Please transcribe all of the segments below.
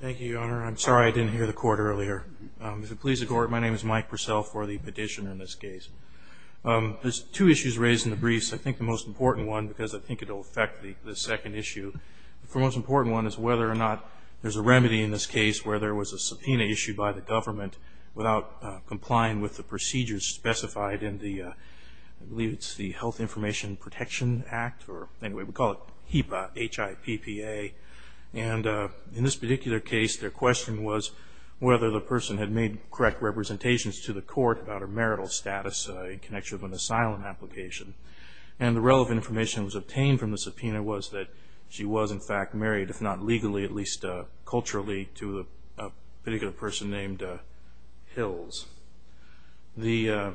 Thank you, Your Honor. I'm sorry I didn't hear the Court earlier. If it pleases the Court, my name is Mike Purcell for the petition in this case. There's two issues raised in the briefs, I think the most important one, because I think it will affect the second issue. The most important one is whether or not there's a remedy in this case where there was a subpoena issued by the government without complying with the procedures specified in the Health Information Protection Act, or anyway, we call it HIPPA. And in this particular case, their question was whether the person had made correct representations to the Court about her marital status in connection with an asylum application. And the relevant information that was obtained from the subpoena was that she was, in fact, married, if not legally, at least culturally, to a particular person named Hills. The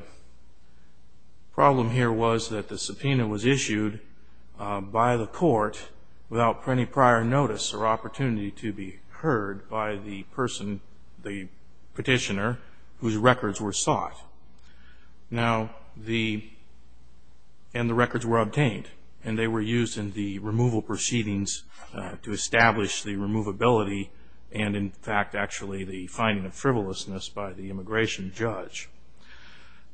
problem here was that the subpoena was issued by the Court without any prior notice or opportunity to be heard by the person, the petitioner, whose records were sought. And the records were obtained, and they were used in the removal proceedings to establish the removability and, in fact, actually the finding of frivolousness by the immigration judge.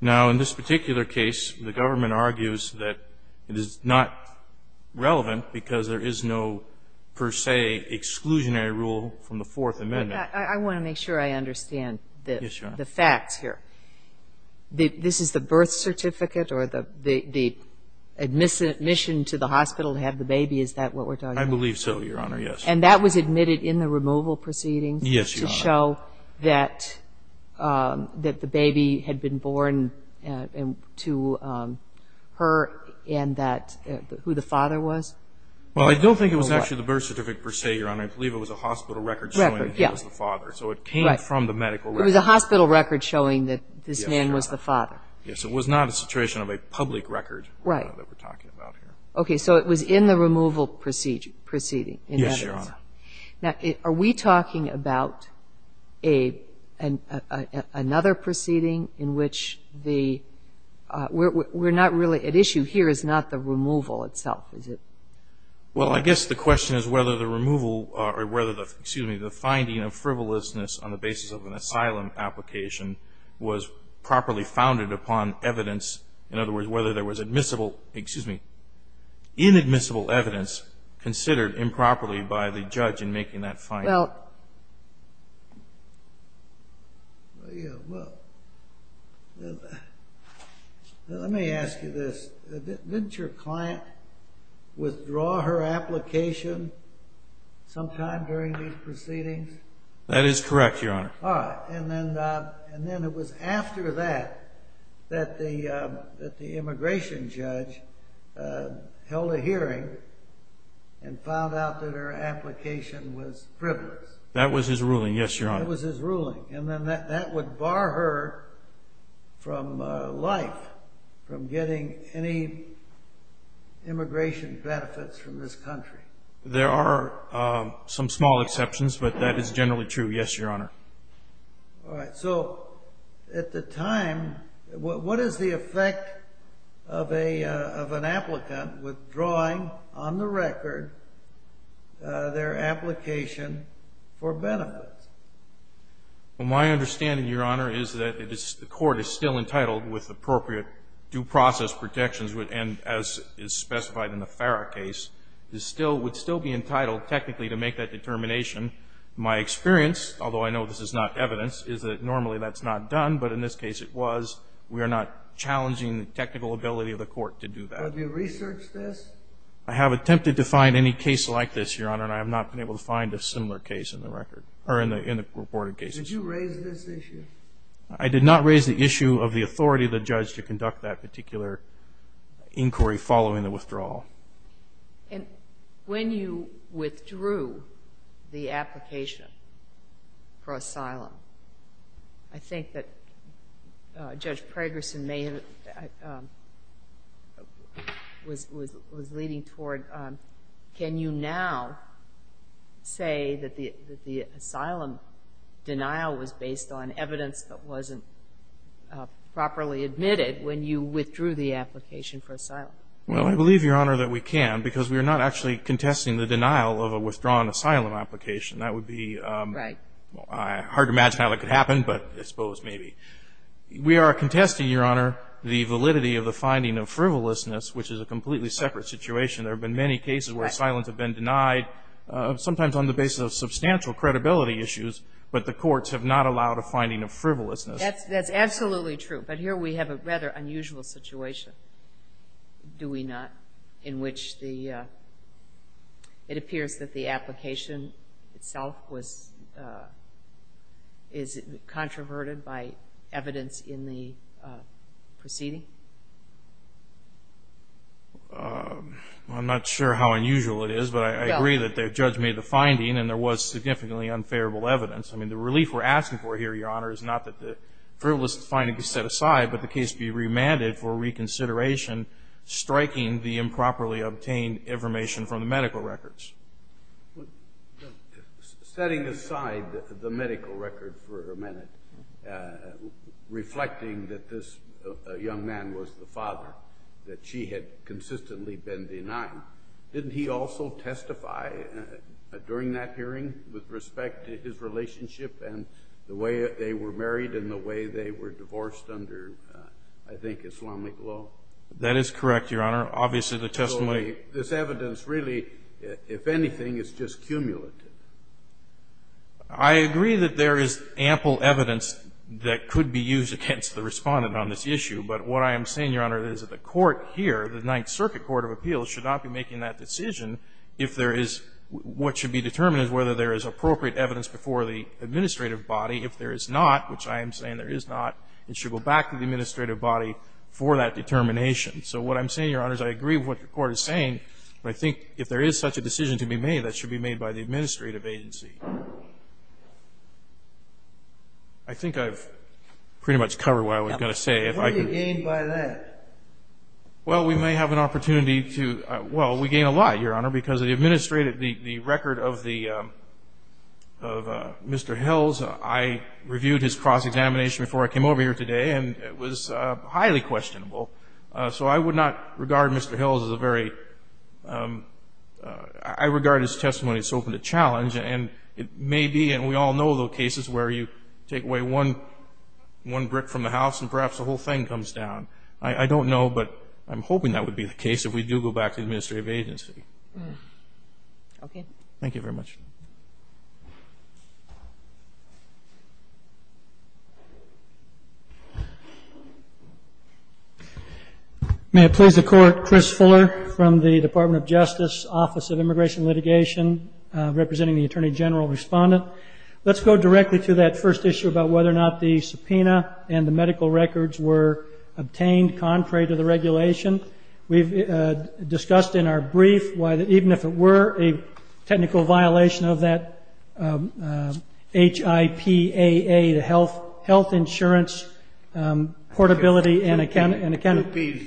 Now, in this particular case, the government argues that it is not relevant because there is no, per se, exclusionary rule from the Fourth Amendment. I want to make sure I understand the facts here. This is the birth certificate or the admission to the hospital to have the baby, is that what we're talking about? I believe so, Your Honor, yes. And that was admitted in the removal proceedings to show that the baby had been born to her and that who the father was? Well, I don't think it was actually the birth certificate, per se, Your Honor. I believe it was a hospital record showing he was the father, so it came from the medical record. It was a hospital record showing that this man was the father. Yes, it was not a situation of a public record that we're talking about here. Okay, so it was in the removal proceeding. Yes, Your Honor. Now, are we talking about another proceeding in which the we're not really at issue here is not the removal itself, is it? Well, I guess the question is whether the removal or whether the, excuse me, the finding of frivolousness on the basis of an asylum application was properly founded upon evidence. In other words, whether there was admissible, excuse me, inadmissible evidence considered improperly by the judge in making that finding. Now, let me ask you this. Didn't your client withdraw her application sometime during these proceedings? That is correct, Your Honor. And then it was after that that the immigration judge held a hearing and found out that her application was frivolous. That was his ruling. Yes, Your Honor. That was his ruling. And then that would bar her from life, from getting any immigration benefits from this country. There are some small exceptions, but that is generally true. Yes, Your Honor. All right, so at the time, what is the effect of an applicant withdrawing on the record their application for benefits? Well, my understanding, Your Honor, is that the court is still entitled with appropriate due process protections and, as is specified in the Farrah case, would still be entitled technically to make that determination. My experience, although I know this is not evidence, is that normally that's not done, but in this case it was. We are not challenging the technical ability of the court to do that. Have you researched this? I have attempted to find any case like this, Your Honor, and I have not been able to find a similar case in the record or in the reported cases. Did you raise this issue? I did not raise the issue of the authority of the judge to conduct that particular inquiry following the withdrawal. And when you withdrew the application for asylum, I think that Judge Pragerson was leading toward can you now say that the asylum denial was based on evidence that wasn't properly admitted when you withdrew the application for asylum? Well, I believe, Your Honor, that we can, because we are not actually contesting the denial of a withdrawn asylum application. That would be hard to imagine how it could happen, but I suppose maybe. We are contesting, Your Honor, the validity of the finding of frivolousness, which is a completely separate situation. There have been many cases where asylums have been denied, sometimes on the basis of substantial credibility issues, but the courts have not allowed a finding of frivolousness. That's absolutely true, but here we have a rather unusual situation, do we not, in which it appears that the application itself is controverted by evidence in the I don't know how unusual it is, but I agree that the judge made the finding and there was significantly unfavorable evidence. The relief we are asking for here, Your Honor, is not that the frivolousness finding be set aside, but the case be remanded for reconsideration, striking the improperly obtained information from the medical records. Setting aside the medical record for a minute, reflecting that this young man was the father, that she had consistently been denied, didn't he also testify during that hearing with respect to his relationship and the way they were married and the way they were divorced under, I think, Islamic law? That is correct, Your Honor. Obviously, the testimony So this evidence really, if anything, is just cumulative? I agree that there is ample evidence that could be used against the Respondent on this issue, but what I am saying, Your Honor, is that the court here, the Ninth Circuit Court of Appeals, should not be making that decision if there is what should be determined is whether there is appropriate evidence before the administrative body. If there is not, which I am saying there is not, it should go back to the cross-examination. So what I am saying, Your Honor, is I agree with what the Court is saying, but I think if there is such a decision to be made, that should be made by the administrative agency. I think I've pretty much covered what I was going to say. What do you gain by that? Well, we may have an opportunity to — well, we gain a lot, Your Honor, because the administrative — the record of the — of Mr. Hills, I reviewed his cross-examination before I came over here today, and it was highly questionable. So I would not regard Mr. Hills as a very — I regard his testimony as open to challenge. And it may be, and we all know the cases where you take away one brick from the house and perhaps the whole thing comes down. I don't know, but I'm hoping that would be the case if we do go back to the administrative agency. Okay. Thank you very much. Thank you. May it please the Court, Chris Fuller from the Department of Justice Office of Immigration Litigation, representing the Attorney General Respondent. Let's go directly to that first issue about whether or not the subpoena and the medical records were obtained contrary to the regulation. We've discussed in our brief why even if it were a technical violation of that HIPAA, the Health Insurance Portability and Accountability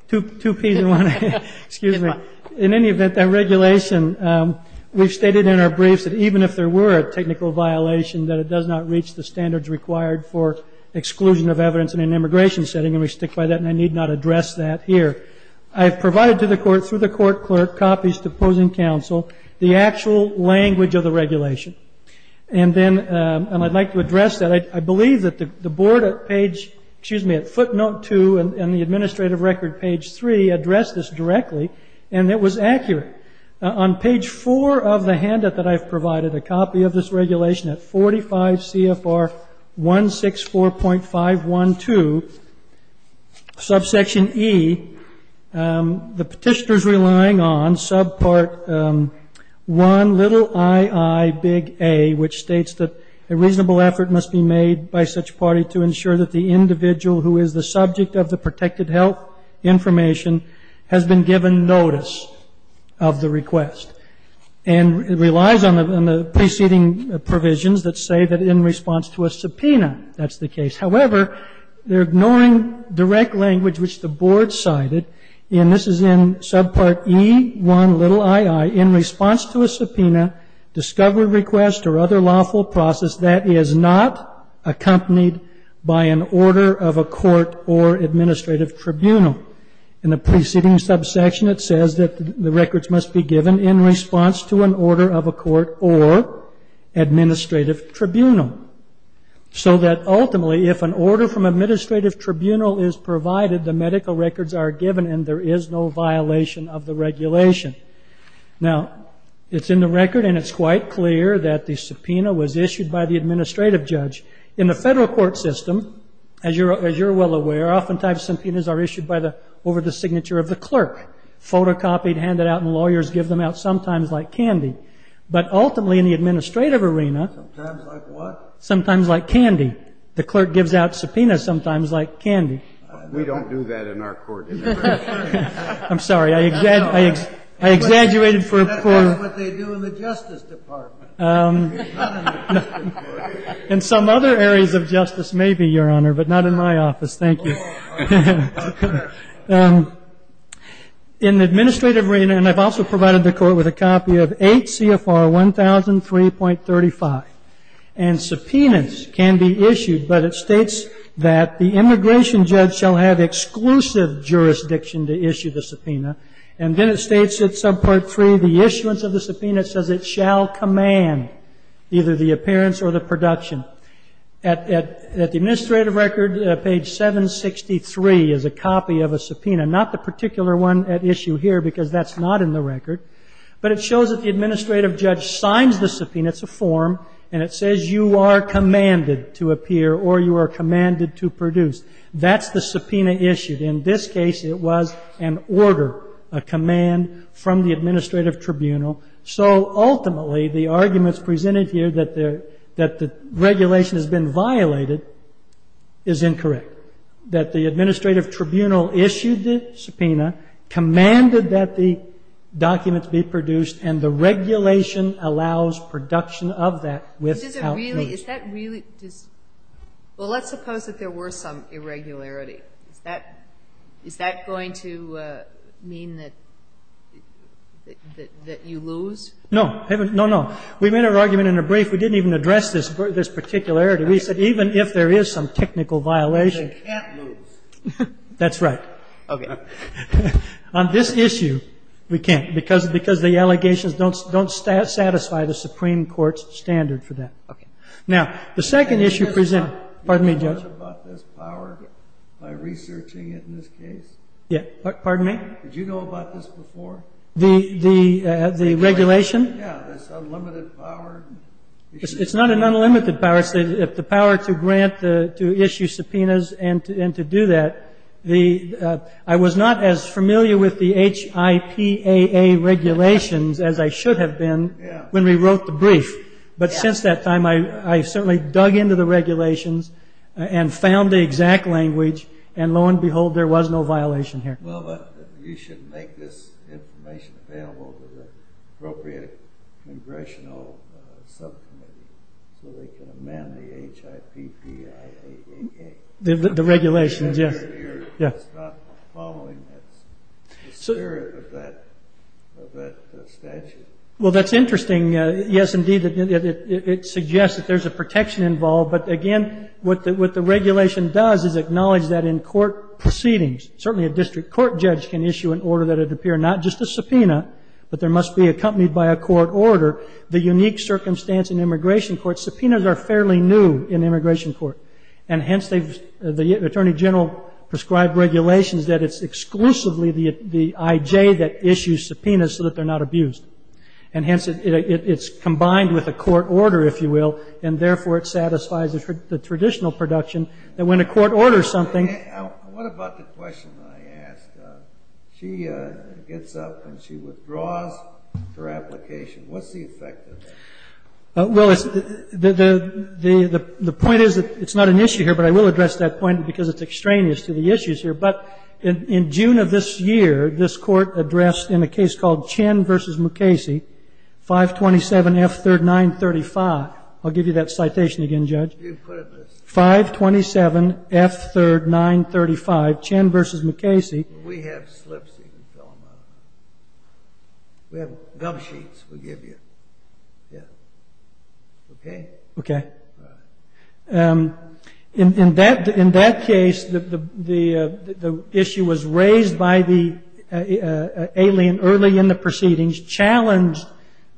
— Two Ps and one A. Two Ps and one A. Excuse me. In any event, that regulation — we've stated in our briefs that even if there were a technical violation, that it does not reach the standards required for exclusion of evidence in an I've provided to the Court, through the Court Clerk, copies to opposing counsel, the actual language of the regulation. And then — and I'd like to address that. I believe that the Board at page — excuse me, at footnote 2 and the administrative record, page 3, addressed this directly, and it was accurate. On page 4 of the handout that I've provided, a copy of this regulation at 45 CFR 164.512, subsection E, the Petitioner is relying on subpart 1, little ii, big A, which states that a reasonable effort must be made by such party to ensure that the individual who is the subject of the protected health information has been given notice of the request. And it relies on the preceding provisions that say that in response to a subpoena, that's the case. However, they're ignoring direct language which the Board cited, and this is in subpart E1, little ii, in response to a subpoena, discovery request, or other lawful process that is not accompanied by an order of a court or administrative tribunal. In the preceding subsection, it says that the records must be given in response to an order of a court or administrative tribunal so that ultimately if an order from administrative tribunal is provided, the medical records are given and there is no violation of the regulation. Now, it's in the record and it's quite clear that the subpoena was issued by the administrative judge. In the federal court system, as you're well aware, oftentimes subpoenas are issued over the signature of the clerk, photocopied, handed out, and lawyers give them out sometimes like candy. But ultimately in the administrative arena- Sometimes like what? Sometimes like candy. The clerk gives out subpoenas sometimes like candy. We don't do that in our court. I'm sorry. I exaggerated for- That's not what they do in the Justice Department. In some other areas of justice, maybe, Your Honor, but not in my office. Thank you. In the administrative arena, and I've also provided the court with a copy of 8 CFR 1003.35, and subpoenas can be issued, but it states that the immigration judge shall have exclusive jurisdiction to issue the subpoena, and then it states at subpart 3, the issuance of the subpoena says it shall command either the appearance or the production. At the administrative record, page 763 is a copy of a subpoena, not the particular one at issue here because that's not in the record, but it shows that the administrative judge signs the subpoena. It's a form, and it says you are commanded to appear or you are commanded to produce. That's the subpoena issued. In this case, it was an order, a command from the administrative tribunal. So, ultimately, the arguments presented here that the regulation has been violated is incorrect, that the administrative tribunal issued the subpoena, commanded that the documents be produced, and the regulation allows production of that with help. Is that really? Well, let's suppose that there were some irregularity. Is that going to mean that you lose? No. No, no. We made our argument in a brief. We didn't even address this particularity. We said even if there is some technical violation. They can't lose. That's right. Okay. On this issue, we can't because the allegations don't satisfy the Supreme Court's standard for that. Okay. Now, the second issue presented. Pardon me, Judge. Did you know about this power by researching it in this case? Pardon me? Did you know about this before? The regulation? Yeah, this unlimited power. It's not an unlimited power. It's the power to grant, to issue subpoenas and to do that. I was not as familiar with the HIPAA regulations as I should have been when we wrote the brief. But since that time, I certainly dug into the regulations and found the exact language. And lo and behold, there was no violation here. Well, but you should make this information available to the appropriate congressional subcommittee so they can amend the HIPAA. The regulations, yes. It's not following the spirit of that statute. Well, that's interesting. Yes, indeed, it suggests that there's a protection involved. But, again, what the regulation does is acknowledge that in court proceedings, certainly a district court judge can issue an order that it appear not just a subpoena, but there must be accompanied by a court order. The unique circumstance in immigration court, subpoenas are fairly new in immigration court. And hence, the Attorney General prescribed regulations that it's exclusively the I.J. that issues subpoenas so that they're not abused. And hence, it's combined with a court order, if you will, and therefore it satisfies the traditional production that when a court orders something. What about the question I asked? She gets up and she withdraws her application. What's the effect of that? Well, the point is that it's not an issue here, but I will address that point because it's extraneous to the issues here. But in June of this year, this court addressed in a case called Chen v. McCasey, 527 F3rd 935. I'll give you that citation again, Judge. 527 F3rd 935, Chen v. McCasey. We have slips you can fill them out. We have gum sheets we give you. Okay? Okay. In that case, the issue was raised by the alien early in the proceedings, challenged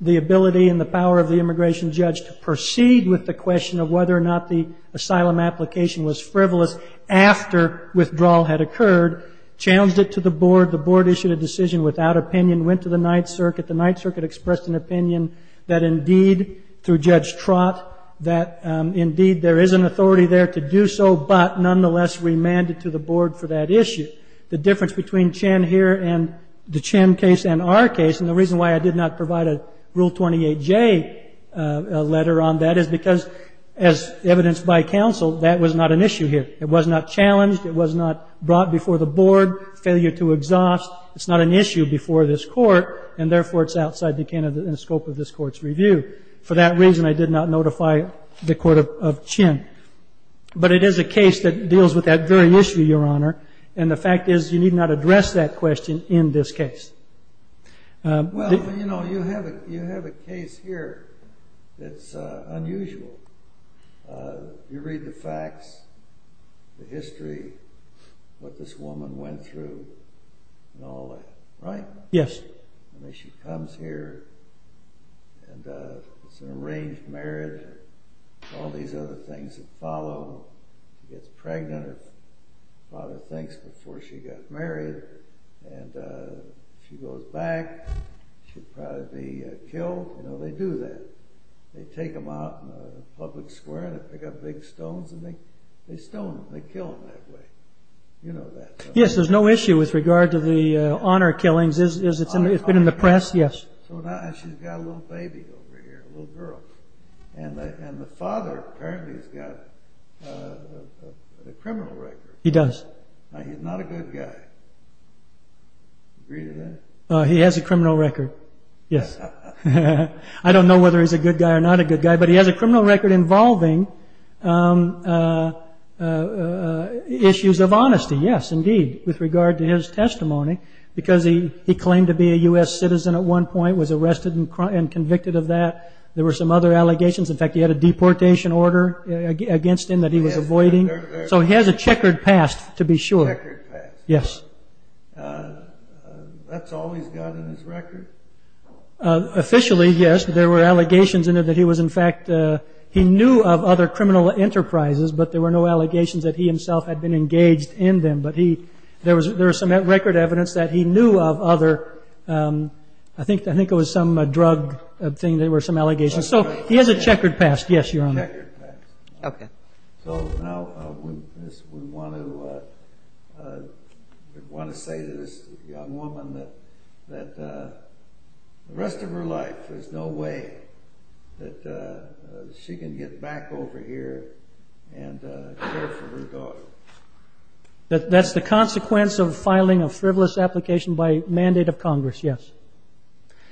the ability and the power of the immigration judge to proceed with the question of whether or not the asylum application was frivolous after withdrawal had occurred, challenged it to the board. The board issued a decision without opinion, went to the Ninth Circuit. The Ninth Circuit expressed an opinion that indeed, through Judge Trott, that indeed there is an authority there to do so, but nonetheless remanded to the board for that issue. The difference between Chen here and the Chen case and our case, and the reason why I did not provide a Rule 28J letter on that is because, as evidenced by counsel, that was not an issue here. It was not challenged. It was not brought before the board, failure to exhaust. It's not an issue before this court, and therefore it's outside the scope of this court's review. For that reason, I did not notify the court of Chen. But it is a case that deals with that very issue, Your Honor, and the fact is you need not address that question in this case. Well, you know, you have a case here that's unusual. You read the facts, the history, what this woman went through, and all that, right? Yes. I mean, she comes here, and it's an arranged marriage, and all these other things that follow. She gets pregnant, her father thinks, before she got married, and she goes back. She'll probably be killed. You know, they do that. They take them out in the public square. They pick up big stones, and they stone them. They kill them that way. You know that. Yes, there's no issue with regard to the honor killings. It's been in the press. Yes. So now she's got a little baby over here, a little girl. And the father apparently has got a criminal record. He does. Now, he's not a good guy. Agree to that? He has a criminal record, yes. I don't know whether he's a good guy or not a good guy, but he has a criminal record involving issues of honesty. Yes, indeed, with regard to his testimony, because he claimed to be a U.S. citizen at one point, was arrested and convicted of that. There were some other allegations. In fact, he had a deportation order against him that he was avoiding. So he has a checkered past, to be sure. A checkered past. Yes. That's all he's got in his record? Officially, yes. There were allegations in it that he was, in fact, he knew of other criminal enterprises, but there were no allegations that he himself had been engaged in them. But there was some record evidence that he knew of other, I think it was some drug thing, there were some allegations. So he has a checkered past, yes, Your Honor. A checkered past. Okay. So now we want to say to this young woman that the rest of her life, there's no way that she can get back over here and care for her daughter. That's the consequence of filing a frivolous application by mandate of Congress, yes.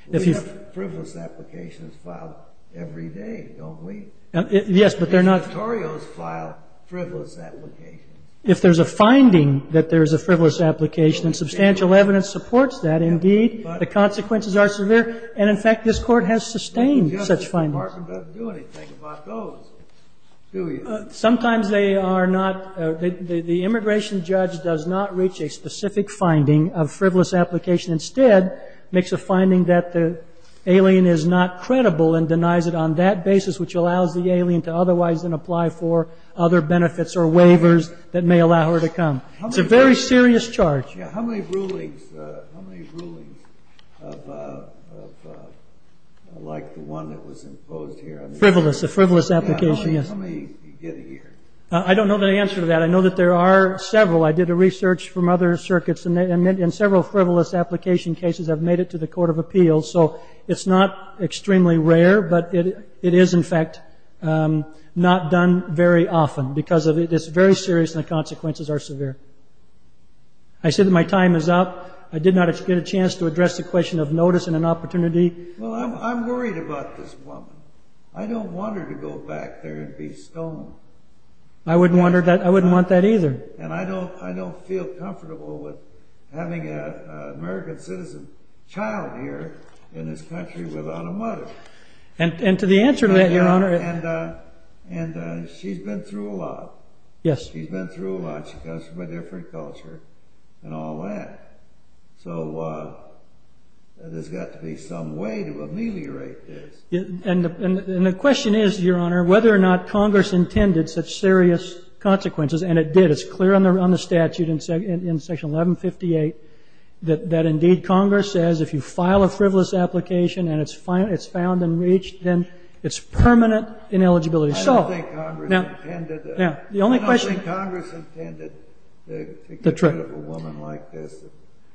We have frivolous applications filed every day, don't we? Yes, but they're not. These notorious file frivolous applications. If there's a finding that there's a frivolous application, and substantial evidence supports that, indeed, the consequences are severe. And, in fact, this Court has sustained such findings. The Justice Department doesn't do anything about those, do you? Sometimes they are not. The immigration judge does not reach a specific finding of frivolous application. Instead, makes a finding that the alien is not credible and denies it on that basis, which allows the alien to otherwise then apply for other benefits or waivers that may allow her to come. It's a very serious charge. How many rulings, how many rulings of like the one that was imposed here? Frivolous, a frivolous application, yes. How many did you get here? I don't know the answer to that. I know that there are several. I did a research from other circuits, and several frivolous application cases have made it to the Court of Appeals. So it's not extremely rare, but it is, in fact, not done very often because it's very serious and the consequences are severe. I said that my time is up. I did not get a chance to address the question of notice and an opportunity. Well, I'm worried about this woman. I don't want her to go back there and be stolen. I wouldn't want that either. And I don't feel comfortable with having an American citizen child here in this country without a mother. And to the answer to that, Your Honor. And she's been through a lot. She's been through a lot. She comes from a different culture and all that. So there's got to be some way to ameliorate this. And the question is, Your Honor, whether or not Congress intended such serious consequences, and it did, it's clear on the statute in Section 1158, that indeed Congress says if you file a frivolous application and it's found and reached, then it's permanent ineligibility. I don't think Congress intended that. I don't think Congress intended to get rid of a woman like this.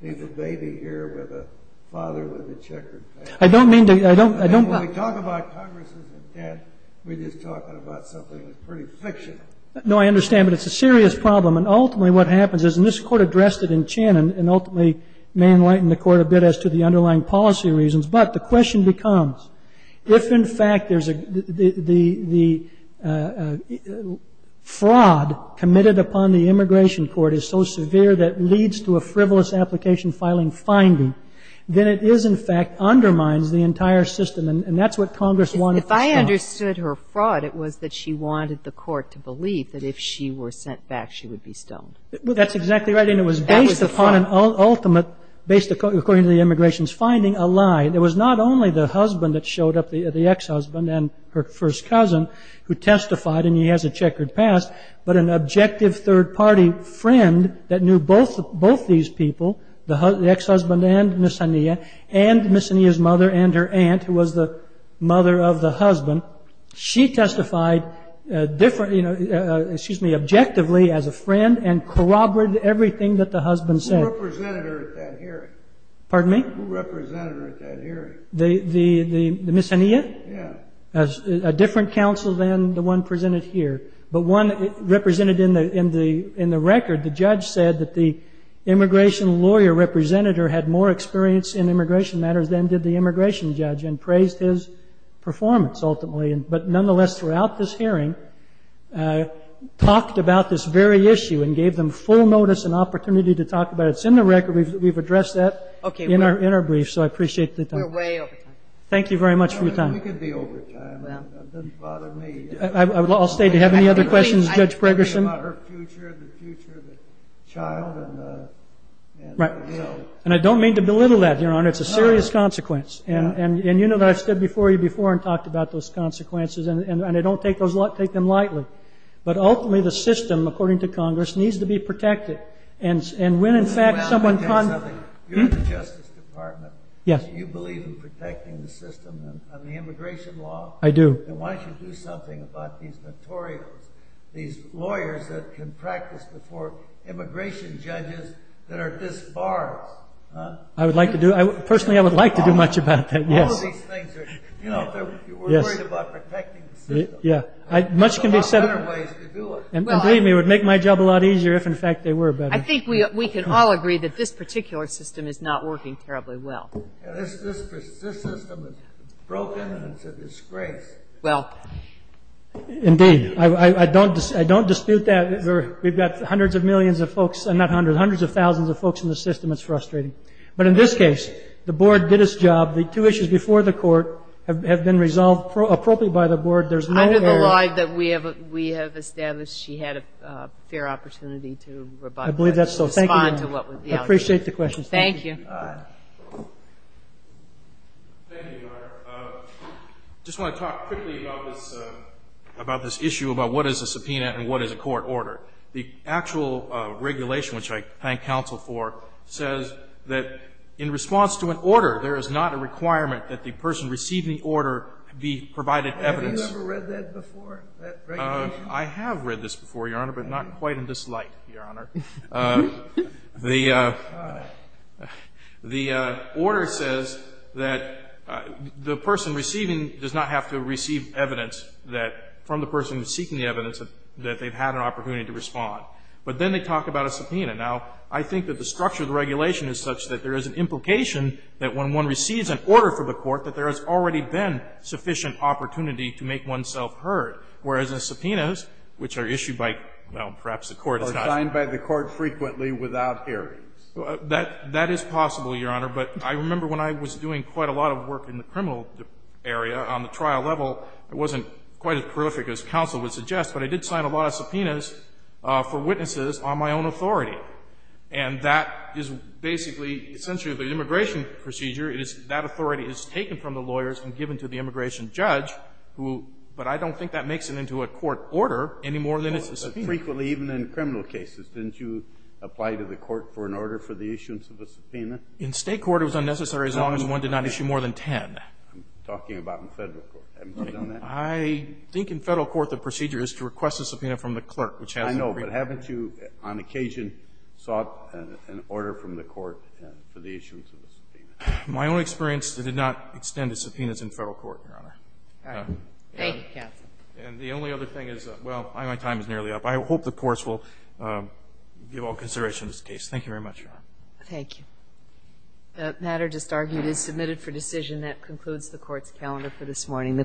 She's a baby here with a father with a checkered pattern. I don't mean to – I don't – When we talk about Congress's intent, we're just talking about something that's pretty fictional. No, I understand. But it's a serious problem. And ultimately what happens is, and this Court addressed it in Chen, and ultimately may enlighten the Court a bit as to the underlying policy reasons. But the question becomes, if, in fact, there's a – the fraud committed upon the immigration court is so severe that leads to a frivolous application filing finding, then it is, in fact, undermines the entire system. And that's what Congress wanted to stop. If I understood her fraud, it was that she wanted the Court to believe that if she were sent back, she would be stoned. That's exactly right. And it was based upon an ultimate, based according to the immigration's finding, a lie. It was not only the husband that showed up, the ex-husband and her first cousin, who testified, and he has a checkered past, but an objective third-party friend that knew both these people, the ex-husband and Ms. Hania, and Ms. Hania's mother and her aunt, who was the mother of the husband. She testified objectively as a friend and corroborated everything that the husband said. Who represented her at that hearing? Pardon me? Who represented her at that hearing? Ms. Hania? Yeah. A different counsel than the one presented here. But one represented in the record, the judge said that the immigration lawyer representative had more experience in immigration matters than did the immigration judge and praised his performance, ultimately. But nonetheless, throughout this hearing, talked about this very issue and gave them full notice and opportunity to talk about it. It's in the record. We've addressed that in our brief, so I appreciate the time. We're way over time. Thank you very much for your time. We could be over time. It doesn't bother me. I'll stay. Do you have any other questions, Judge Pregerson? About her future, the future of the child and her will. And I don't mean to belittle that, Your Honor. It's a serious consequence. And you know that I've stood before you before and talked about those consequences, and I don't take them lightly. But ultimately, the system, according to Congress, needs to be protected. And when, in fact, someone con- Well, let me tell you something. You're in the Justice Department. Yes. Do you believe in protecting the system and the immigration law? I do. Then why don't you do something about these notorious, these lawyers that can practice before immigration judges that are disbarred? I would like to do – personally, I would like to do much about that, yes. All of these things are – you know, if you were worried about protecting the system, there's a lot better ways to do it. And believe me, it would make my job a lot easier if, in fact, they were better. I think we can all agree that this particular system is not working terribly well. This system is broken. It's a disgrace. Well. Indeed. I don't dispute that. We've got hundreds of millions of folks – not hundreds – hundreds of thousands of folks in the system. It's frustrating. But in this case, the board did its job. The two issues before the court have been resolved appropriately by the board. There's no error. Under the law that we have established, she had a fair opportunity to respond to what was the – I believe that's so. Thank you. Thank you, Your Honor. I just want to talk quickly about this issue, about what is a subpoena and what is a court order. The actual regulation, which I thank counsel for, says that in response to an order, there is not a requirement that the person receiving the order be provided evidence. Have you ever read that before, that regulation? I have read this before, Your Honor, but not quite in this light, Your Honor. The order says that the person receiving does not have to receive evidence that – from the person seeking the evidence that they've had an opportunity to respond. But then they talk about a subpoena. Now, I think that the structure of the regulation is such that there is an implication that when one receives an order from the court, that there has already been sufficient opportunity to make oneself heard, whereas in subpoenas, which are issued by – well, perhaps the court is not. They are signed by the court frequently without hearings. That is possible, Your Honor, but I remember when I was doing quite a lot of work in the criminal area on the trial level, it wasn't quite as prolific as counsel would suggest, but I did sign a lot of subpoenas for witnesses on my own authority. And that is basically essentially the immigration procedure. That authority is taken from the lawyers and given to the immigration judge, but I don't think that makes it into a court order any more than it's a subpoena. Frequently, even in criminal cases, didn't you apply to the court for an order for the issuance of a subpoena? In State court, it was unnecessary as long as one did not issue more than 10. I'm talking about in Federal court. Haven't you done that? I think in Federal court the procedure is to request a subpoena from the clerk, which has to be – I know, but haven't you on occasion sought an order from the court for the issuance of a subpoena? My own experience, it did not extend to subpoenas in Federal court, Your Honor. Thank you, counsel. And the only other thing is – well, my time is nearly up. I hope the courts will give all consideration to this case. Thank you very much, Your Honor. Thank you. The matter just argued is submitted for decision. That concludes the court's calendar for this morning.